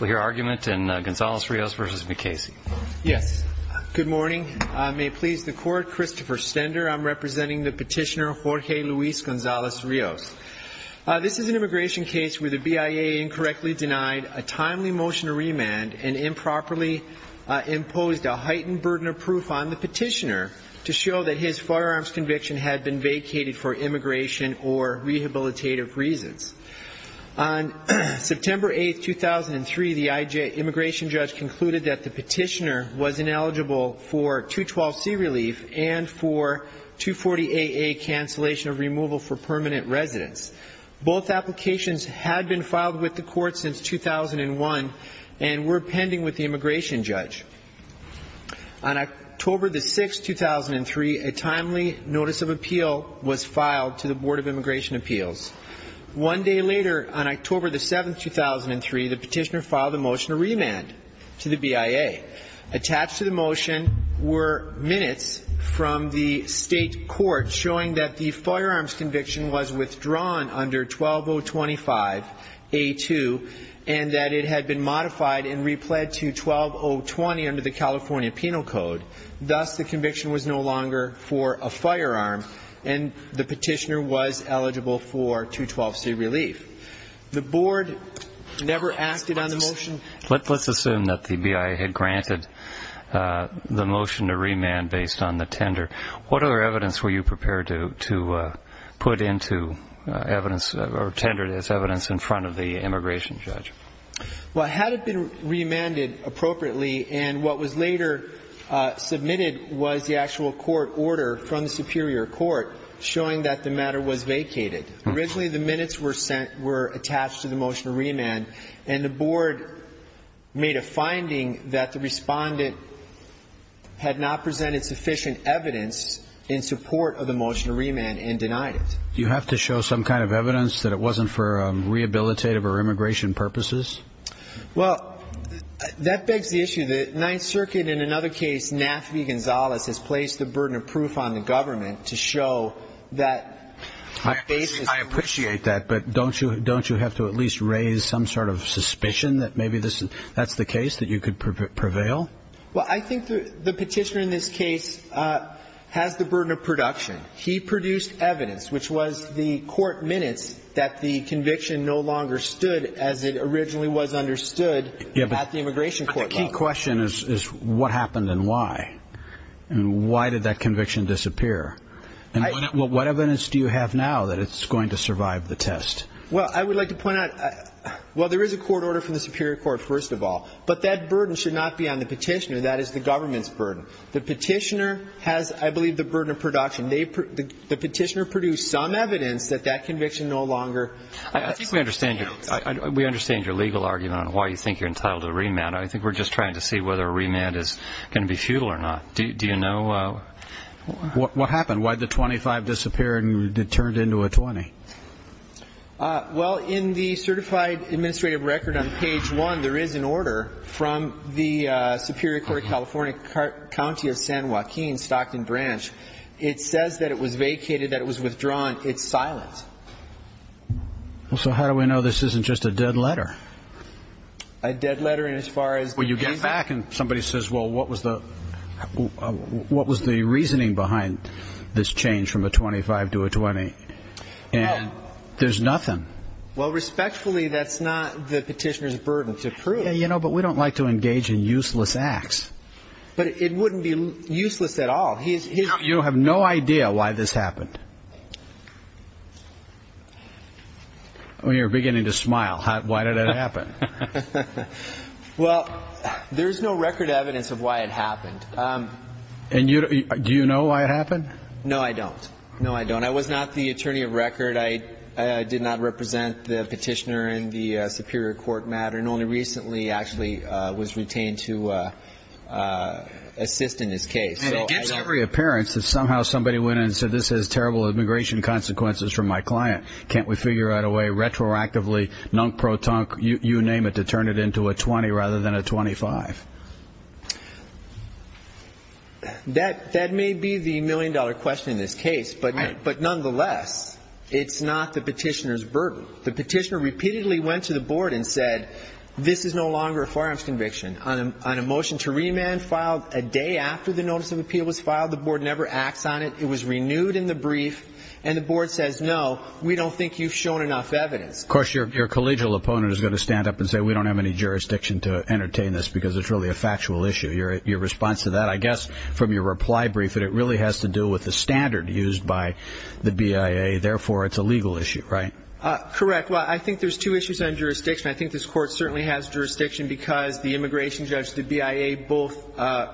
We'll hear argument in Gonzales-Rios v. Mukasey. Yes. Good morning. May it please the Court, Christopher Stender. I'm representing the petitioner Jorge Luis Gonzales-Rios. This is an immigration case where the BIA incorrectly denied a timely motion to remand and improperly imposed a heightened burden of proof on the petitioner to show that his firearms conviction had been vacated for immigration or rehabilitative reasons. On September 8, 2003, the immigration judge concluded that the petitioner was ineligible for 212C relief and for 240AA cancellation of removal for permanent residence. Both applications had been filed with the court since 2001 and were pending with the immigration judge. On October 6, 2003, a timely notice of appeal was filed to the Board of Immigration Appeals. One day later, on October 7, 2003, the petitioner filed a motion to remand to the BIA. Attached to the motion were minutes from the state court showing that the firearms conviction was withdrawn under 12025A2 and that it had been modified and replayed to 12020 under the California Penal Code. Thus, the conviction was no longer for a firearm and the petitioner was eligible for 212C relief. The board never acted on the motion. Let's assume that the BIA had granted the motion to remand based on the tender. What other evidence were you prepared to put into evidence or tender as evidence in front of the immigration judge? Well, had it been remanded appropriately and what was later submitted was the actual court order from the superior court showing that the matter was vacated. Originally, the minutes were sent were attached to the motion to remand and the board made a finding that the respondent had not presented sufficient evidence in support of the motion to remand and denied it. Do you have to show some kind of evidence that it wasn't for rehabilitative or immigration purposes? Well, that begs the issue that Ninth Circuit, in another case, Naftali Gonzalez has placed the burden of proof on the government to show that... I appreciate that, but don't you have to at least raise some sort of suspicion that maybe that's the case, that you could prevail? Well, I think the petitioner in this case has the burden of production. He produced evidence, which was the court minutes, that the conviction no longer stood as it originally was understood at the immigration court level. The key question is what happened and why, and why did that conviction disappear? And what evidence do you have now that it's going to survive the test? Well, I would like to point out, well, there is a court order from the superior court, first of all, but that burden should not be on the petitioner, that is the government's burden. The petitioner has, I believe, the burden of production. The petitioner produced some evidence that that conviction no longer stands. I think we understand your legal argument on why you think you're entitled to a remand. I think we're just trying to see whether a remand is going to be futile or not. Do you know what happened? Why did the 25 disappear and it turned into a 20? Well, in the certified administrative record on page one, there is an order from the Superior Court of California, County of San Joaquin, Stockton Branch. It says that it was vacated, that it was withdrawn. It's silent. So how do we know this isn't just a dead letter? A dead letter in as far as the reason? Well, you go back and somebody says, well, what was the reasoning behind this change from a 25 to a 20? And there's nothing. Well, respectfully, that's not the petitioner's burden to prove. But we don't like to engage in useless acts. But it wouldn't be useless at all. You have no idea why this happened. You're beginning to smile. Why did it happen? Well, there's no record evidence of why it happened. And do you know why it happened? No, I don't. No, I don't. I was not the attorney of record. I did not represent the petitioner in the Superior Court matter and only recently actually was retained to assist in this case. And it gives every appearance that somehow somebody went in and said, this has terrible immigration consequences for my client. Can't we figure out a way retroactively, nunk-pro-tunk, you name it, to turn it into a 20 rather than a 25? That may be the million-dollar question in this case. But nonetheless, it's not the petitioner's burden. The petitioner repeatedly went to the board and said, this is no longer a firearms conviction. On a motion to remand filed a day after the notice of appeal was filed, the board never acts on it. It was renewed in the brief. And the board says, no, we don't think you've shown enough evidence. Of course, your collegial opponent is going to stand up and say, we don't have any jurisdiction to entertain this because it's really a factual issue. Your response to that, I guess from your reply brief, that it really has to do with the standard used by the BIA, therefore it's a legal issue, right? Correct. Well, I think there's two issues on jurisdiction. I think this court certainly has jurisdiction because the immigration judge, the BIA, both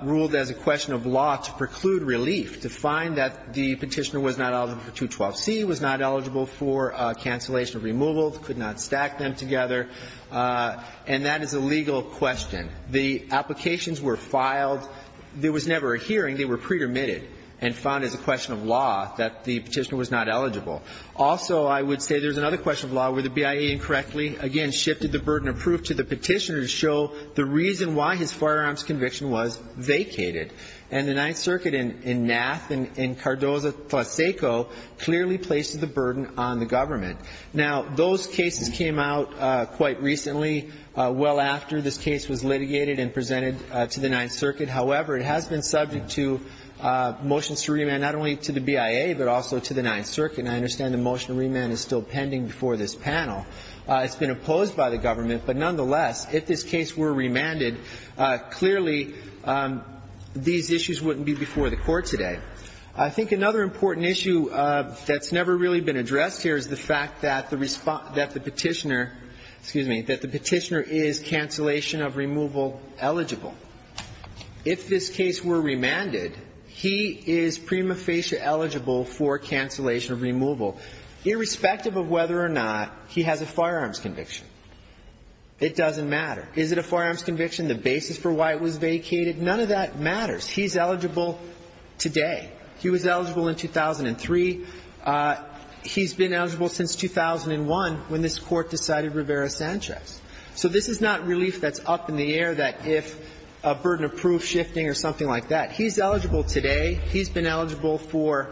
ruled as a question of law to preclude relief, to find that the petitioner was not eligible for 212C, was not eligible for cancellation of removal, could not stack them together. And that is a legal question. The applications were filed. There was never a hearing. They were pre-permitted and found as a question of law that the petitioner was not eligible. Also, I would say there's another question of law where the BIA incorrectly, again, shifted the burden of proof to the petitioner to show the reason why his firearms conviction was vacated. And the Ninth Circuit in Nath and in Cardozo-Tlaseco clearly places the burden on the government. Now, those cases came out quite recently, well after this case was litigated and presented to the Ninth Circuit. However, it has been subject to motions to remand not only to the BIA but also to the Ninth Circuit. And I understand the motion to remand is still pending before this panel. It's been opposed by the government. But nonetheless, if this case were remanded, clearly these issues wouldn't be before the Court today. I think another important issue that's never really been addressed here is the fact that the petitioner is cancellation of removal eligible. If this case were remanded, he is prima facie eligible for cancellation of removal, irrespective of whether or not he has a firearms conviction. It doesn't matter. Is it a firearms conviction? The basis for why it was vacated? None of that matters. He's eligible today. He was eligible in 2003. He's been eligible since 2001 when this Court decided Rivera-Sanchez. So this is not relief that's up in the air that if a burden of proof shifting or something like that. He's eligible today. He's been eligible for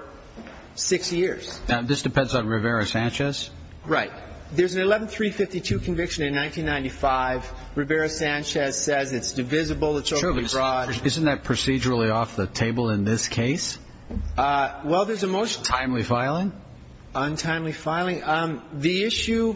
six years. Now, this depends on Rivera-Sanchez? Right. There's an 11-352 conviction in 1995. Rivera-Sanchez says it's divisible, it's overly broad. Sure, but isn't that procedurally off the table in this case? Well, there's a motion. Timely filing? Untimely filing. The issue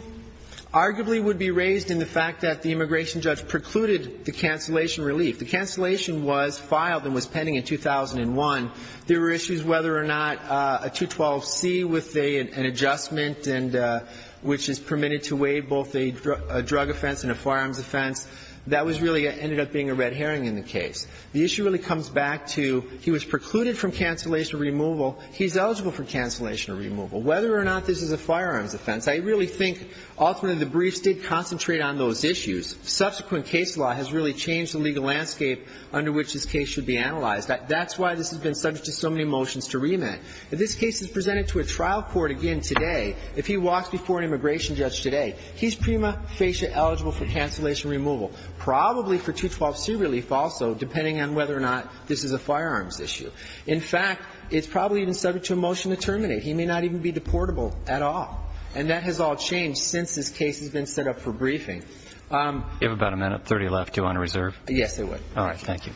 arguably would be raised in the fact that the immigration judge precluded the cancellation relief. The cancellation was filed and was pending in 2001. There were issues whether or not a 212C with an adjustment and which is permitted to weigh both a drug offense and a firearms offense, that was really ended up being a red herring in the case. The issue really comes back to he was precluded from cancellation removal. He's eligible for cancellation removal. Whether or not this is a firearms offense, I really think ultimately the briefs did concentrate on those issues. Subsequent case law has really changed the legal landscape under which this case should be analyzed. That's why this has been subject to so many motions to remand. If this case is presented to a trial court again today, if he walks before an immigration judge today, he's prima facie eligible for cancellation removal, probably for 212C relief also, depending on whether or not this is a firearms issue. In fact, it's probably even subject to a motion to terminate. He may not even be deportable at all. And that has all changed since this case has been set up for briefing. You have about a minute, 30 left. Do you want to reserve? Yes, I would. All right, thank you.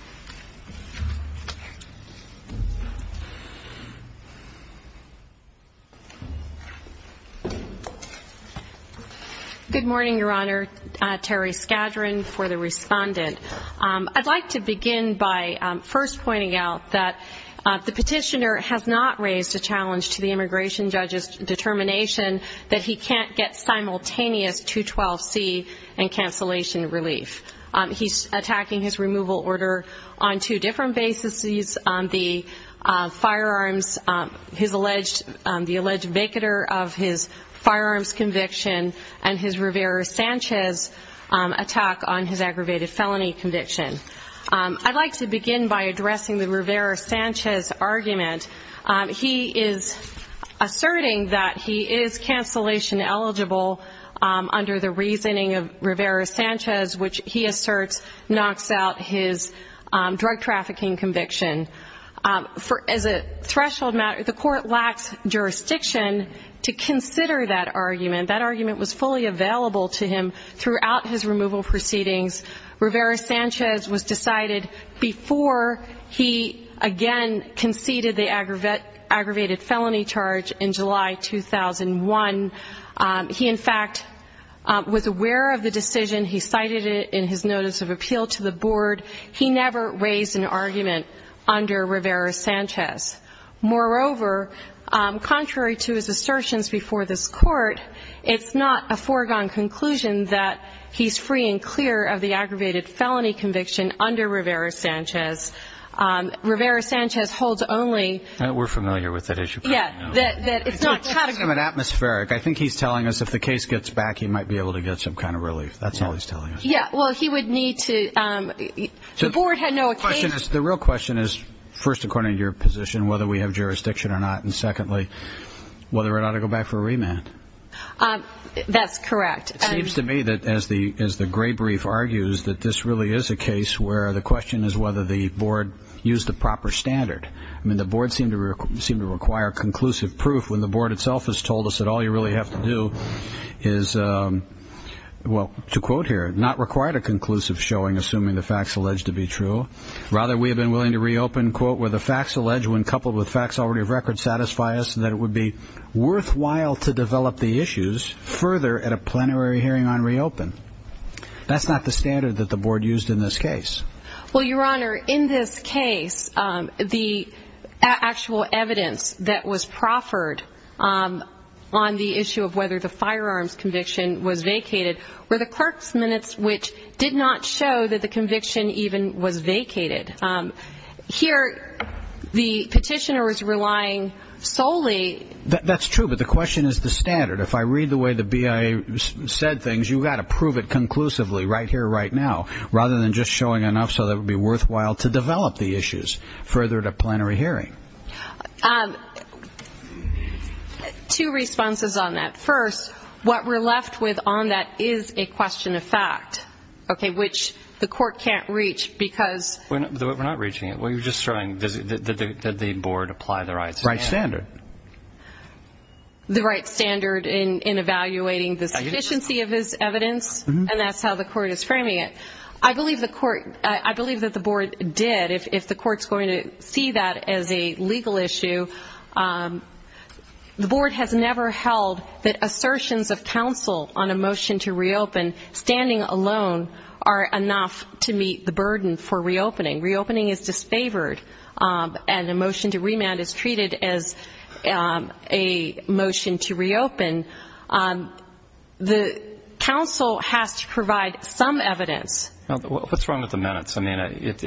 Good morning, Your Honor. Terry Skadron for the respondent. I'd like to begin by first pointing out that the petitioner has not raised a challenge to the immigration judge's determination that he can't get simultaneous 212C and cancellation relief. He's attacking his removal order on two different bases. The firearms, the alleged vacater of his firearms conviction and his Rivera-Sanchez attack on his aggravated felony conviction. I'd like to begin by addressing the Rivera-Sanchez argument. He is asserting that he is cancellation eligible under the reasoning of Rivera-Sanchez, which he asserts knocks out his drug trafficking conviction. As a threshold matter, the court lacks jurisdiction to consider that argument. That argument was fully available to him throughout his removal proceedings. Rivera-Sanchez was decided before he again conceded the aggravated felony charge in July 2001. He, in fact, was aware of the decision. He cited it in his notice of appeal to the board. He never raised an argument under Rivera-Sanchez. Moreover, contrary to his assertions before this court, it's not a foregone conclusion that he's free and clear of the aggravated felony conviction under Rivera-Sanchez. Rivera-Sanchez holds only. We're familiar with that issue. Yeah, that it's not categorical. It's atmospheric. I think he's telling us if the case gets back, he might be able to get some kind of relief. That's all he's telling us. Yeah, well, he would need to. The board had no occasion. The real question is, first, according to your position, whether we have jurisdiction or not, and secondly, whether or not to go back for a remand. That's correct. It seems to me that as the gray brief argues, that this really is a case where the question is whether the board used the proper standard. I mean, the board seemed to require conclusive proof when the board itself has told us that all you really have to do is, well, to quote here, not require a conclusive showing assuming the facts alleged to be true. Rather, we have been willing to reopen, quote, where the facts alleged when coupled with facts already of record satisfy us and that it would be worthwhile to develop the issues further at a plenary hearing on reopen. That's not the standard that the board used in this case. Well, Your Honor, in this case, the actual evidence that was proffered on the issue of whether the firearms conviction was vacated were the clerk's minutes, which did not show that the conviction even was vacated. Here, the petitioner was relying solely. That's true, but the question is the standard. If I read the way the BIA said things, you've got to prove it conclusively, right here, right now, rather than just showing enough so that it would be worthwhile to develop the issues further at a plenary hearing. Two responses on that. First, what we're left with on that is a question of fact, okay, which the court can't reach because... We're not reaching it. We're just showing that the board applied the right standard. The right standard. The right standard in evaluating the sufficiency of his evidence, and that's how the court is framing it. I believe that the board did. If the court's going to see that as a legal issue, the board has never held that assertions of counsel on a motion to reopen, standing alone, are enough to meet the burden for reopening. Reopening is disfavored, and a motion to remand is treated as a motion to reopen. The counsel has to provide some evidence. What's wrong with the minutes? I mean, it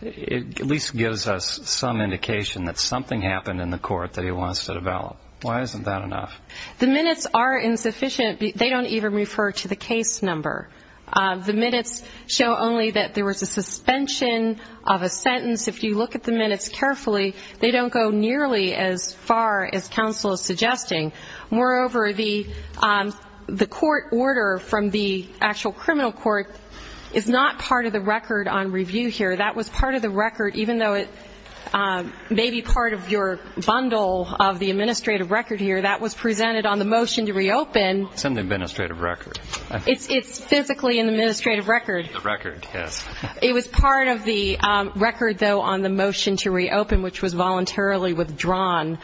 at least gives us some indication that something happened in the court that he wants to develop. Why isn't that enough? The minutes are insufficient. They don't even refer to the case number. The minutes show only that there was a suspension of a sentence. If you look at the minutes carefully, they don't go nearly as far as counsel is suggesting. Moreover, the court order from the actual criminal court is not part of the record on review here. That was part of the record, even though it may be part of your bundle of the administrative record here. That was presented on the motion to reopen. It's in the administrative record. It's physically in the administrative record. The record, yes. It was part of the record, though, on the motion to reopen, which was voluntarily withdrawn.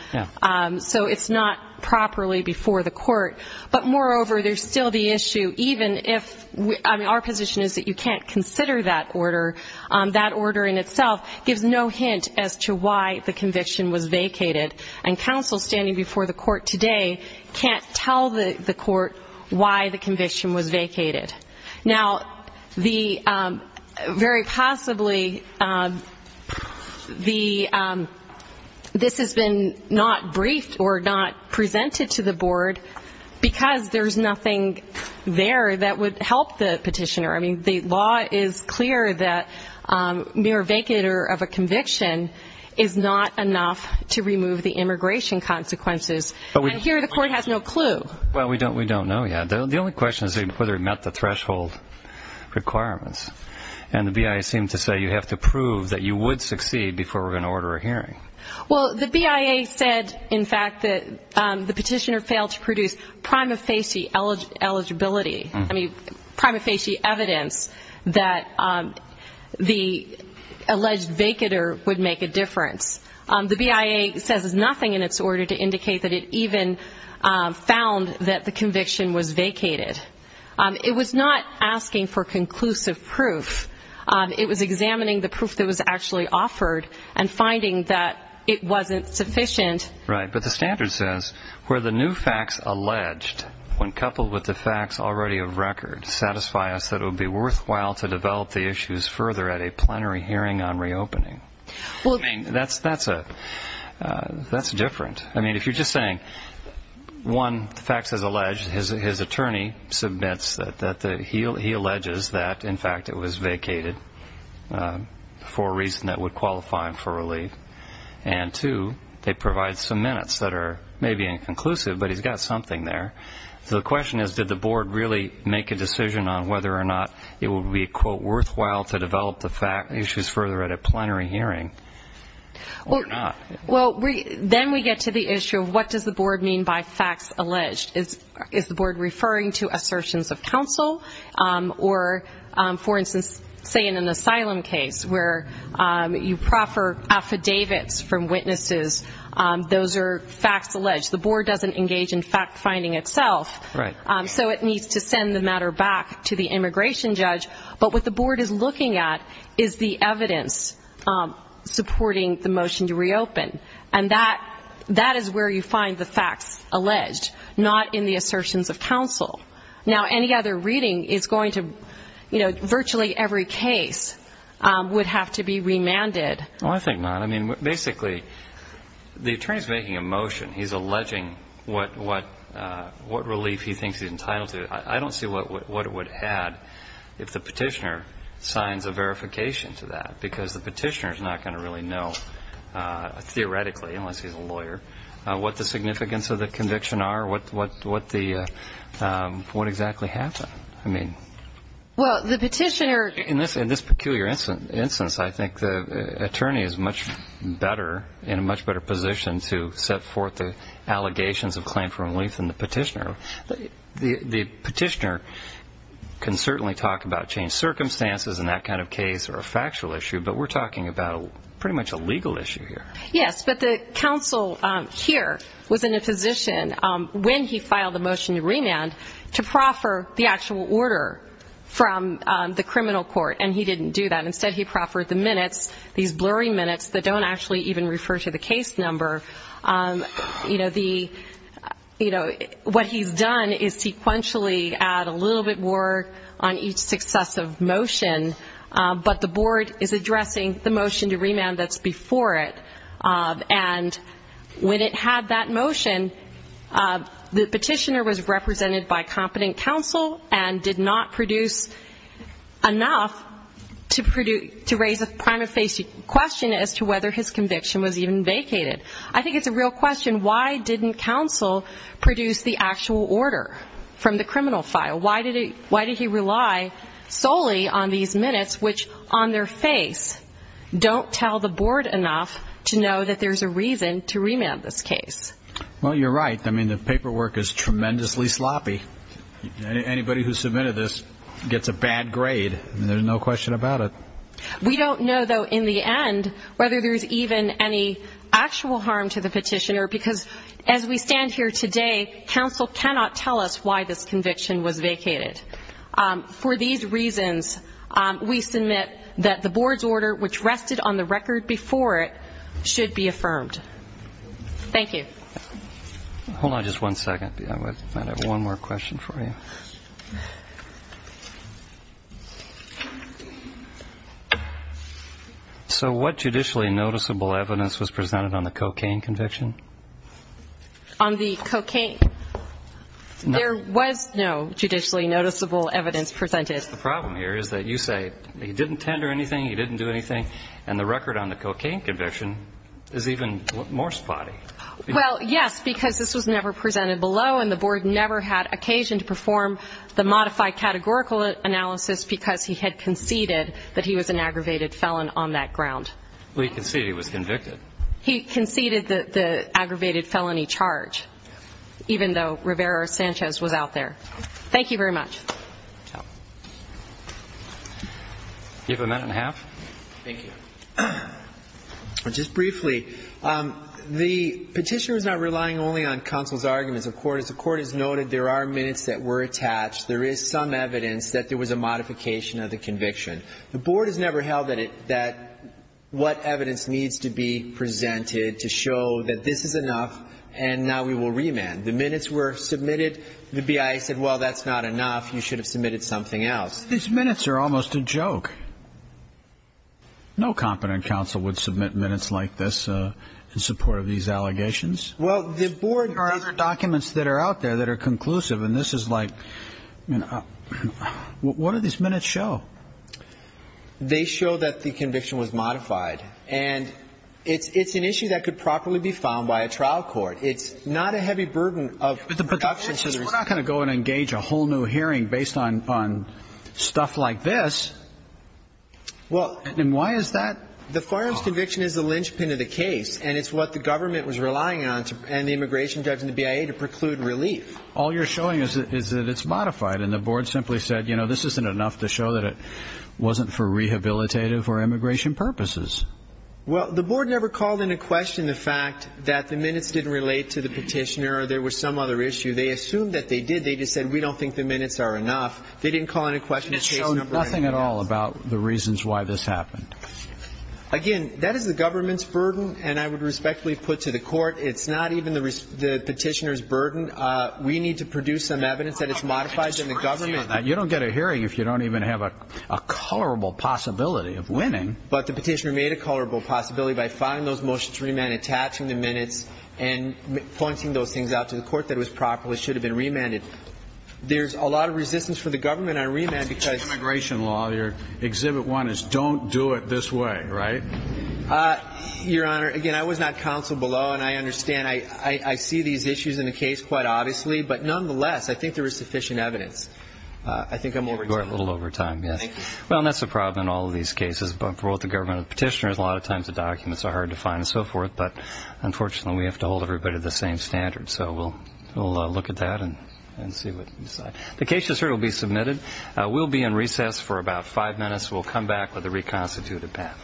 So it's not properly before the court. But, moreover, there's still the issue, even if our position is that you can't consider that order, that order in itself gives no hint as to why the conviction was vacated. And counsel standing before the court today can't tell the court why the conviction was vacated. Now, very possibly this has been not briefed or not presented to the board because there's nothing there that would help the petitioner. I mean, the law is clear that mere vacater of a conviction is not enough to remove the immigration consequences. And here the court has no clue. Well, we don't know yet. The only question is whether it met the threshold requirements. And the BIA seemed to say you have to prove that you would succeed before we're going to order a hearing. Well, the BIA said, in fact, that the petitioner failed to produce prima facie eligibility, I mean, prima facie evidence that the alleged vacater would make a difference. The BIA says nothing in its order to indicate that it even found that the conviction was vacated. It was not asking for conclusive proof. It was examining the proof that was actually offered and finding that it wasn't sufficient. Right. But the standard says where the new facts alleged, when coupled with the facts already of record, satisfy us that it would be worthwhile to develop the issues further at a plenary hearing on reopening. Well, I mean, that's different. I mean, if you're just saying, one, the facts as alleged, his attorney submits that he alleges that, in fact, it was vacated for a reason that would qualify him for relief. And, two, they provide some minutes that are maybe inconclusive, but he's got something there. So the question is, did the board really make a decision on whether or not it would be, quote, worthwhile to develop the issues further at a plenary hearing or not? Well, then we get to the issue of what does the board mean by facts alleged. Is the board referring to assertions of counsel or, for instance, say in an asylum case where you proffer affidavits from witnesses, those are facts alleged. The board doesn't engage in fact-finding itself. Right. So it needs to send the matter back to the immigration judge. But what the board is looking at is the evidence supporting the motion to reopen. And that is where you find the facts alleged, not in the assertions of counsel. Now, any other reading is going to, you know, virtually every case would have to be remanded. Well, I think not. I mean, basically, the attorney is making a motion. He's alleging what relief he thinks he's entitled to. I don't see what it would add if the petitioner signs a verification to that because the petitioner is not going to really know theoretically, unless he's a lawyer, what the significance of the conviction are, what exactly happened. I mean, in this peculiar instance, I think the attorney is much better in a much better position to set forth the allegations of claim for relief than the petitioner. The petitioner can certainly talk about changed circumstances in that kind of case or a factual issue, but we're talking about pretty much a legal issue here. Yes, but the counsel here was in a position, when he filed the motion to remand, to proffer the actual order from the criminal court, and he didn't do that. Instead, he proffered the minutes, these blurry minutes that don't actually even refer to the case number. You know, what he's done is sequentially add a little bit more on each successive motion, but the board is addressing the motion to remand that's before it. And when it had that motion, the petitioner was represented by competent counsel and did not produce enough to raise a prima facie question as to whether his conviction was even vacated. I think it's a real question. Why didn't counsel produce the actual order from the criminal file? Why did he rely solely on these minutes which, on their face, don't tell the board enough to know that there's a reason to remand this case? Well, you're right. I mean, the paperwork is tremendously sloppy. Anybody who submitted this gets a bad grade, and there's no question about it. We don't know, though, in the end, whether there's even any actual harm to the petitioner, because as we stand here today, counsel cannot tell us why this conviction was vacated. For these reasons, we submit that the board's order, which rested on the record before it, should be affirmed. Thank you. Hold on just one second. I have one more question for you. So what judicially noticeable evidence was presented on the cocaine conviction? On the cocaine? There was no judicially noticeable evidence presented. The problem here is that you say he didn't tender anything, he didn't do anything, and the record on the cocaine conviction is even more spotty. Well, yes, because this was never presented below, and the board never had occasion to perform the modified categorical analysis because he had conceded that he was an aggravated felon on that ground. Well, he conceded he was convicted. He conceded the aggravated felony charge, even though Rivera-Sanchez was out there. Thank you very much. Do you have a minute and a half? Thank you. Just briefly, the petitioner is not relying only on counsel's arguments. As the Court has noted, there are minutes that were attached. There is some evidence that there was a modification of the conviction. The board has never held that what evidence needs to be presented to show that this is enough and now we will remand. The minutes were submitted. The BIA said, well, that's not enough. You should have submitted something else. These minutes are almost a joke. No competent counsel would submit minutes like this in support of these allegations. There are other documents that are out there that are conclusive, and this is like, what do these minutes show? They show that the conviction was modified, and it's an issue that could properly be found by a trial court. It's not a heavy burden of production. We're not going to go and engage a whole new hearing based on stuff like this. And why is that? The firearms conviction is the linchpin of the case, and it's what the government was relying on and the immigration judge and the BIA to preclude relief. All you're showing is that it's modified, and the board simply said, you know, this isn't enough to show that it wasn't for rehabilitative or immigration purposes. Well, the board never called into question the fact that the minutes didn't relate to the petitioner or there was some other issue. They assumed that they did. They just said, we don't think the minutes are enough. They didn't call into question the case number. Nothing at all about the reasons why this happened. Again, that is the government's burden, and I would respectfully put to the court, it's not even the petitioner's burden. We need to produce some evidence that it's modified, and the government. You don't get a hearing if you don't even have a colorable possibility of winning. But the petitioner made a colorable possibility by finding those motions remand, and attaching the minutes, and pointing those things out to the court that it was proper. It should have been remanded. There's a lot of resistance for the government on remand because of immigration law. Exhibit one is don't do it this way, right? Your Honor, again, I was not counseled below, and I understand. I see these issues in the case quite obviously. But nonetheless, I think there is sufficient evidence. I think I'm over time. You're a little over time, yes. Thank you. Well, and that's the problem in all of these cases. For both the government and the petitioners, a lot of times the documents are hard to find and so forth, but unfortunately we have to hold everybody to the same standard. So we'll look at that and see what we decide. The case is here. It will be submitted. We'll be in recess for about five minutes. We'll come back with a reconstituted path.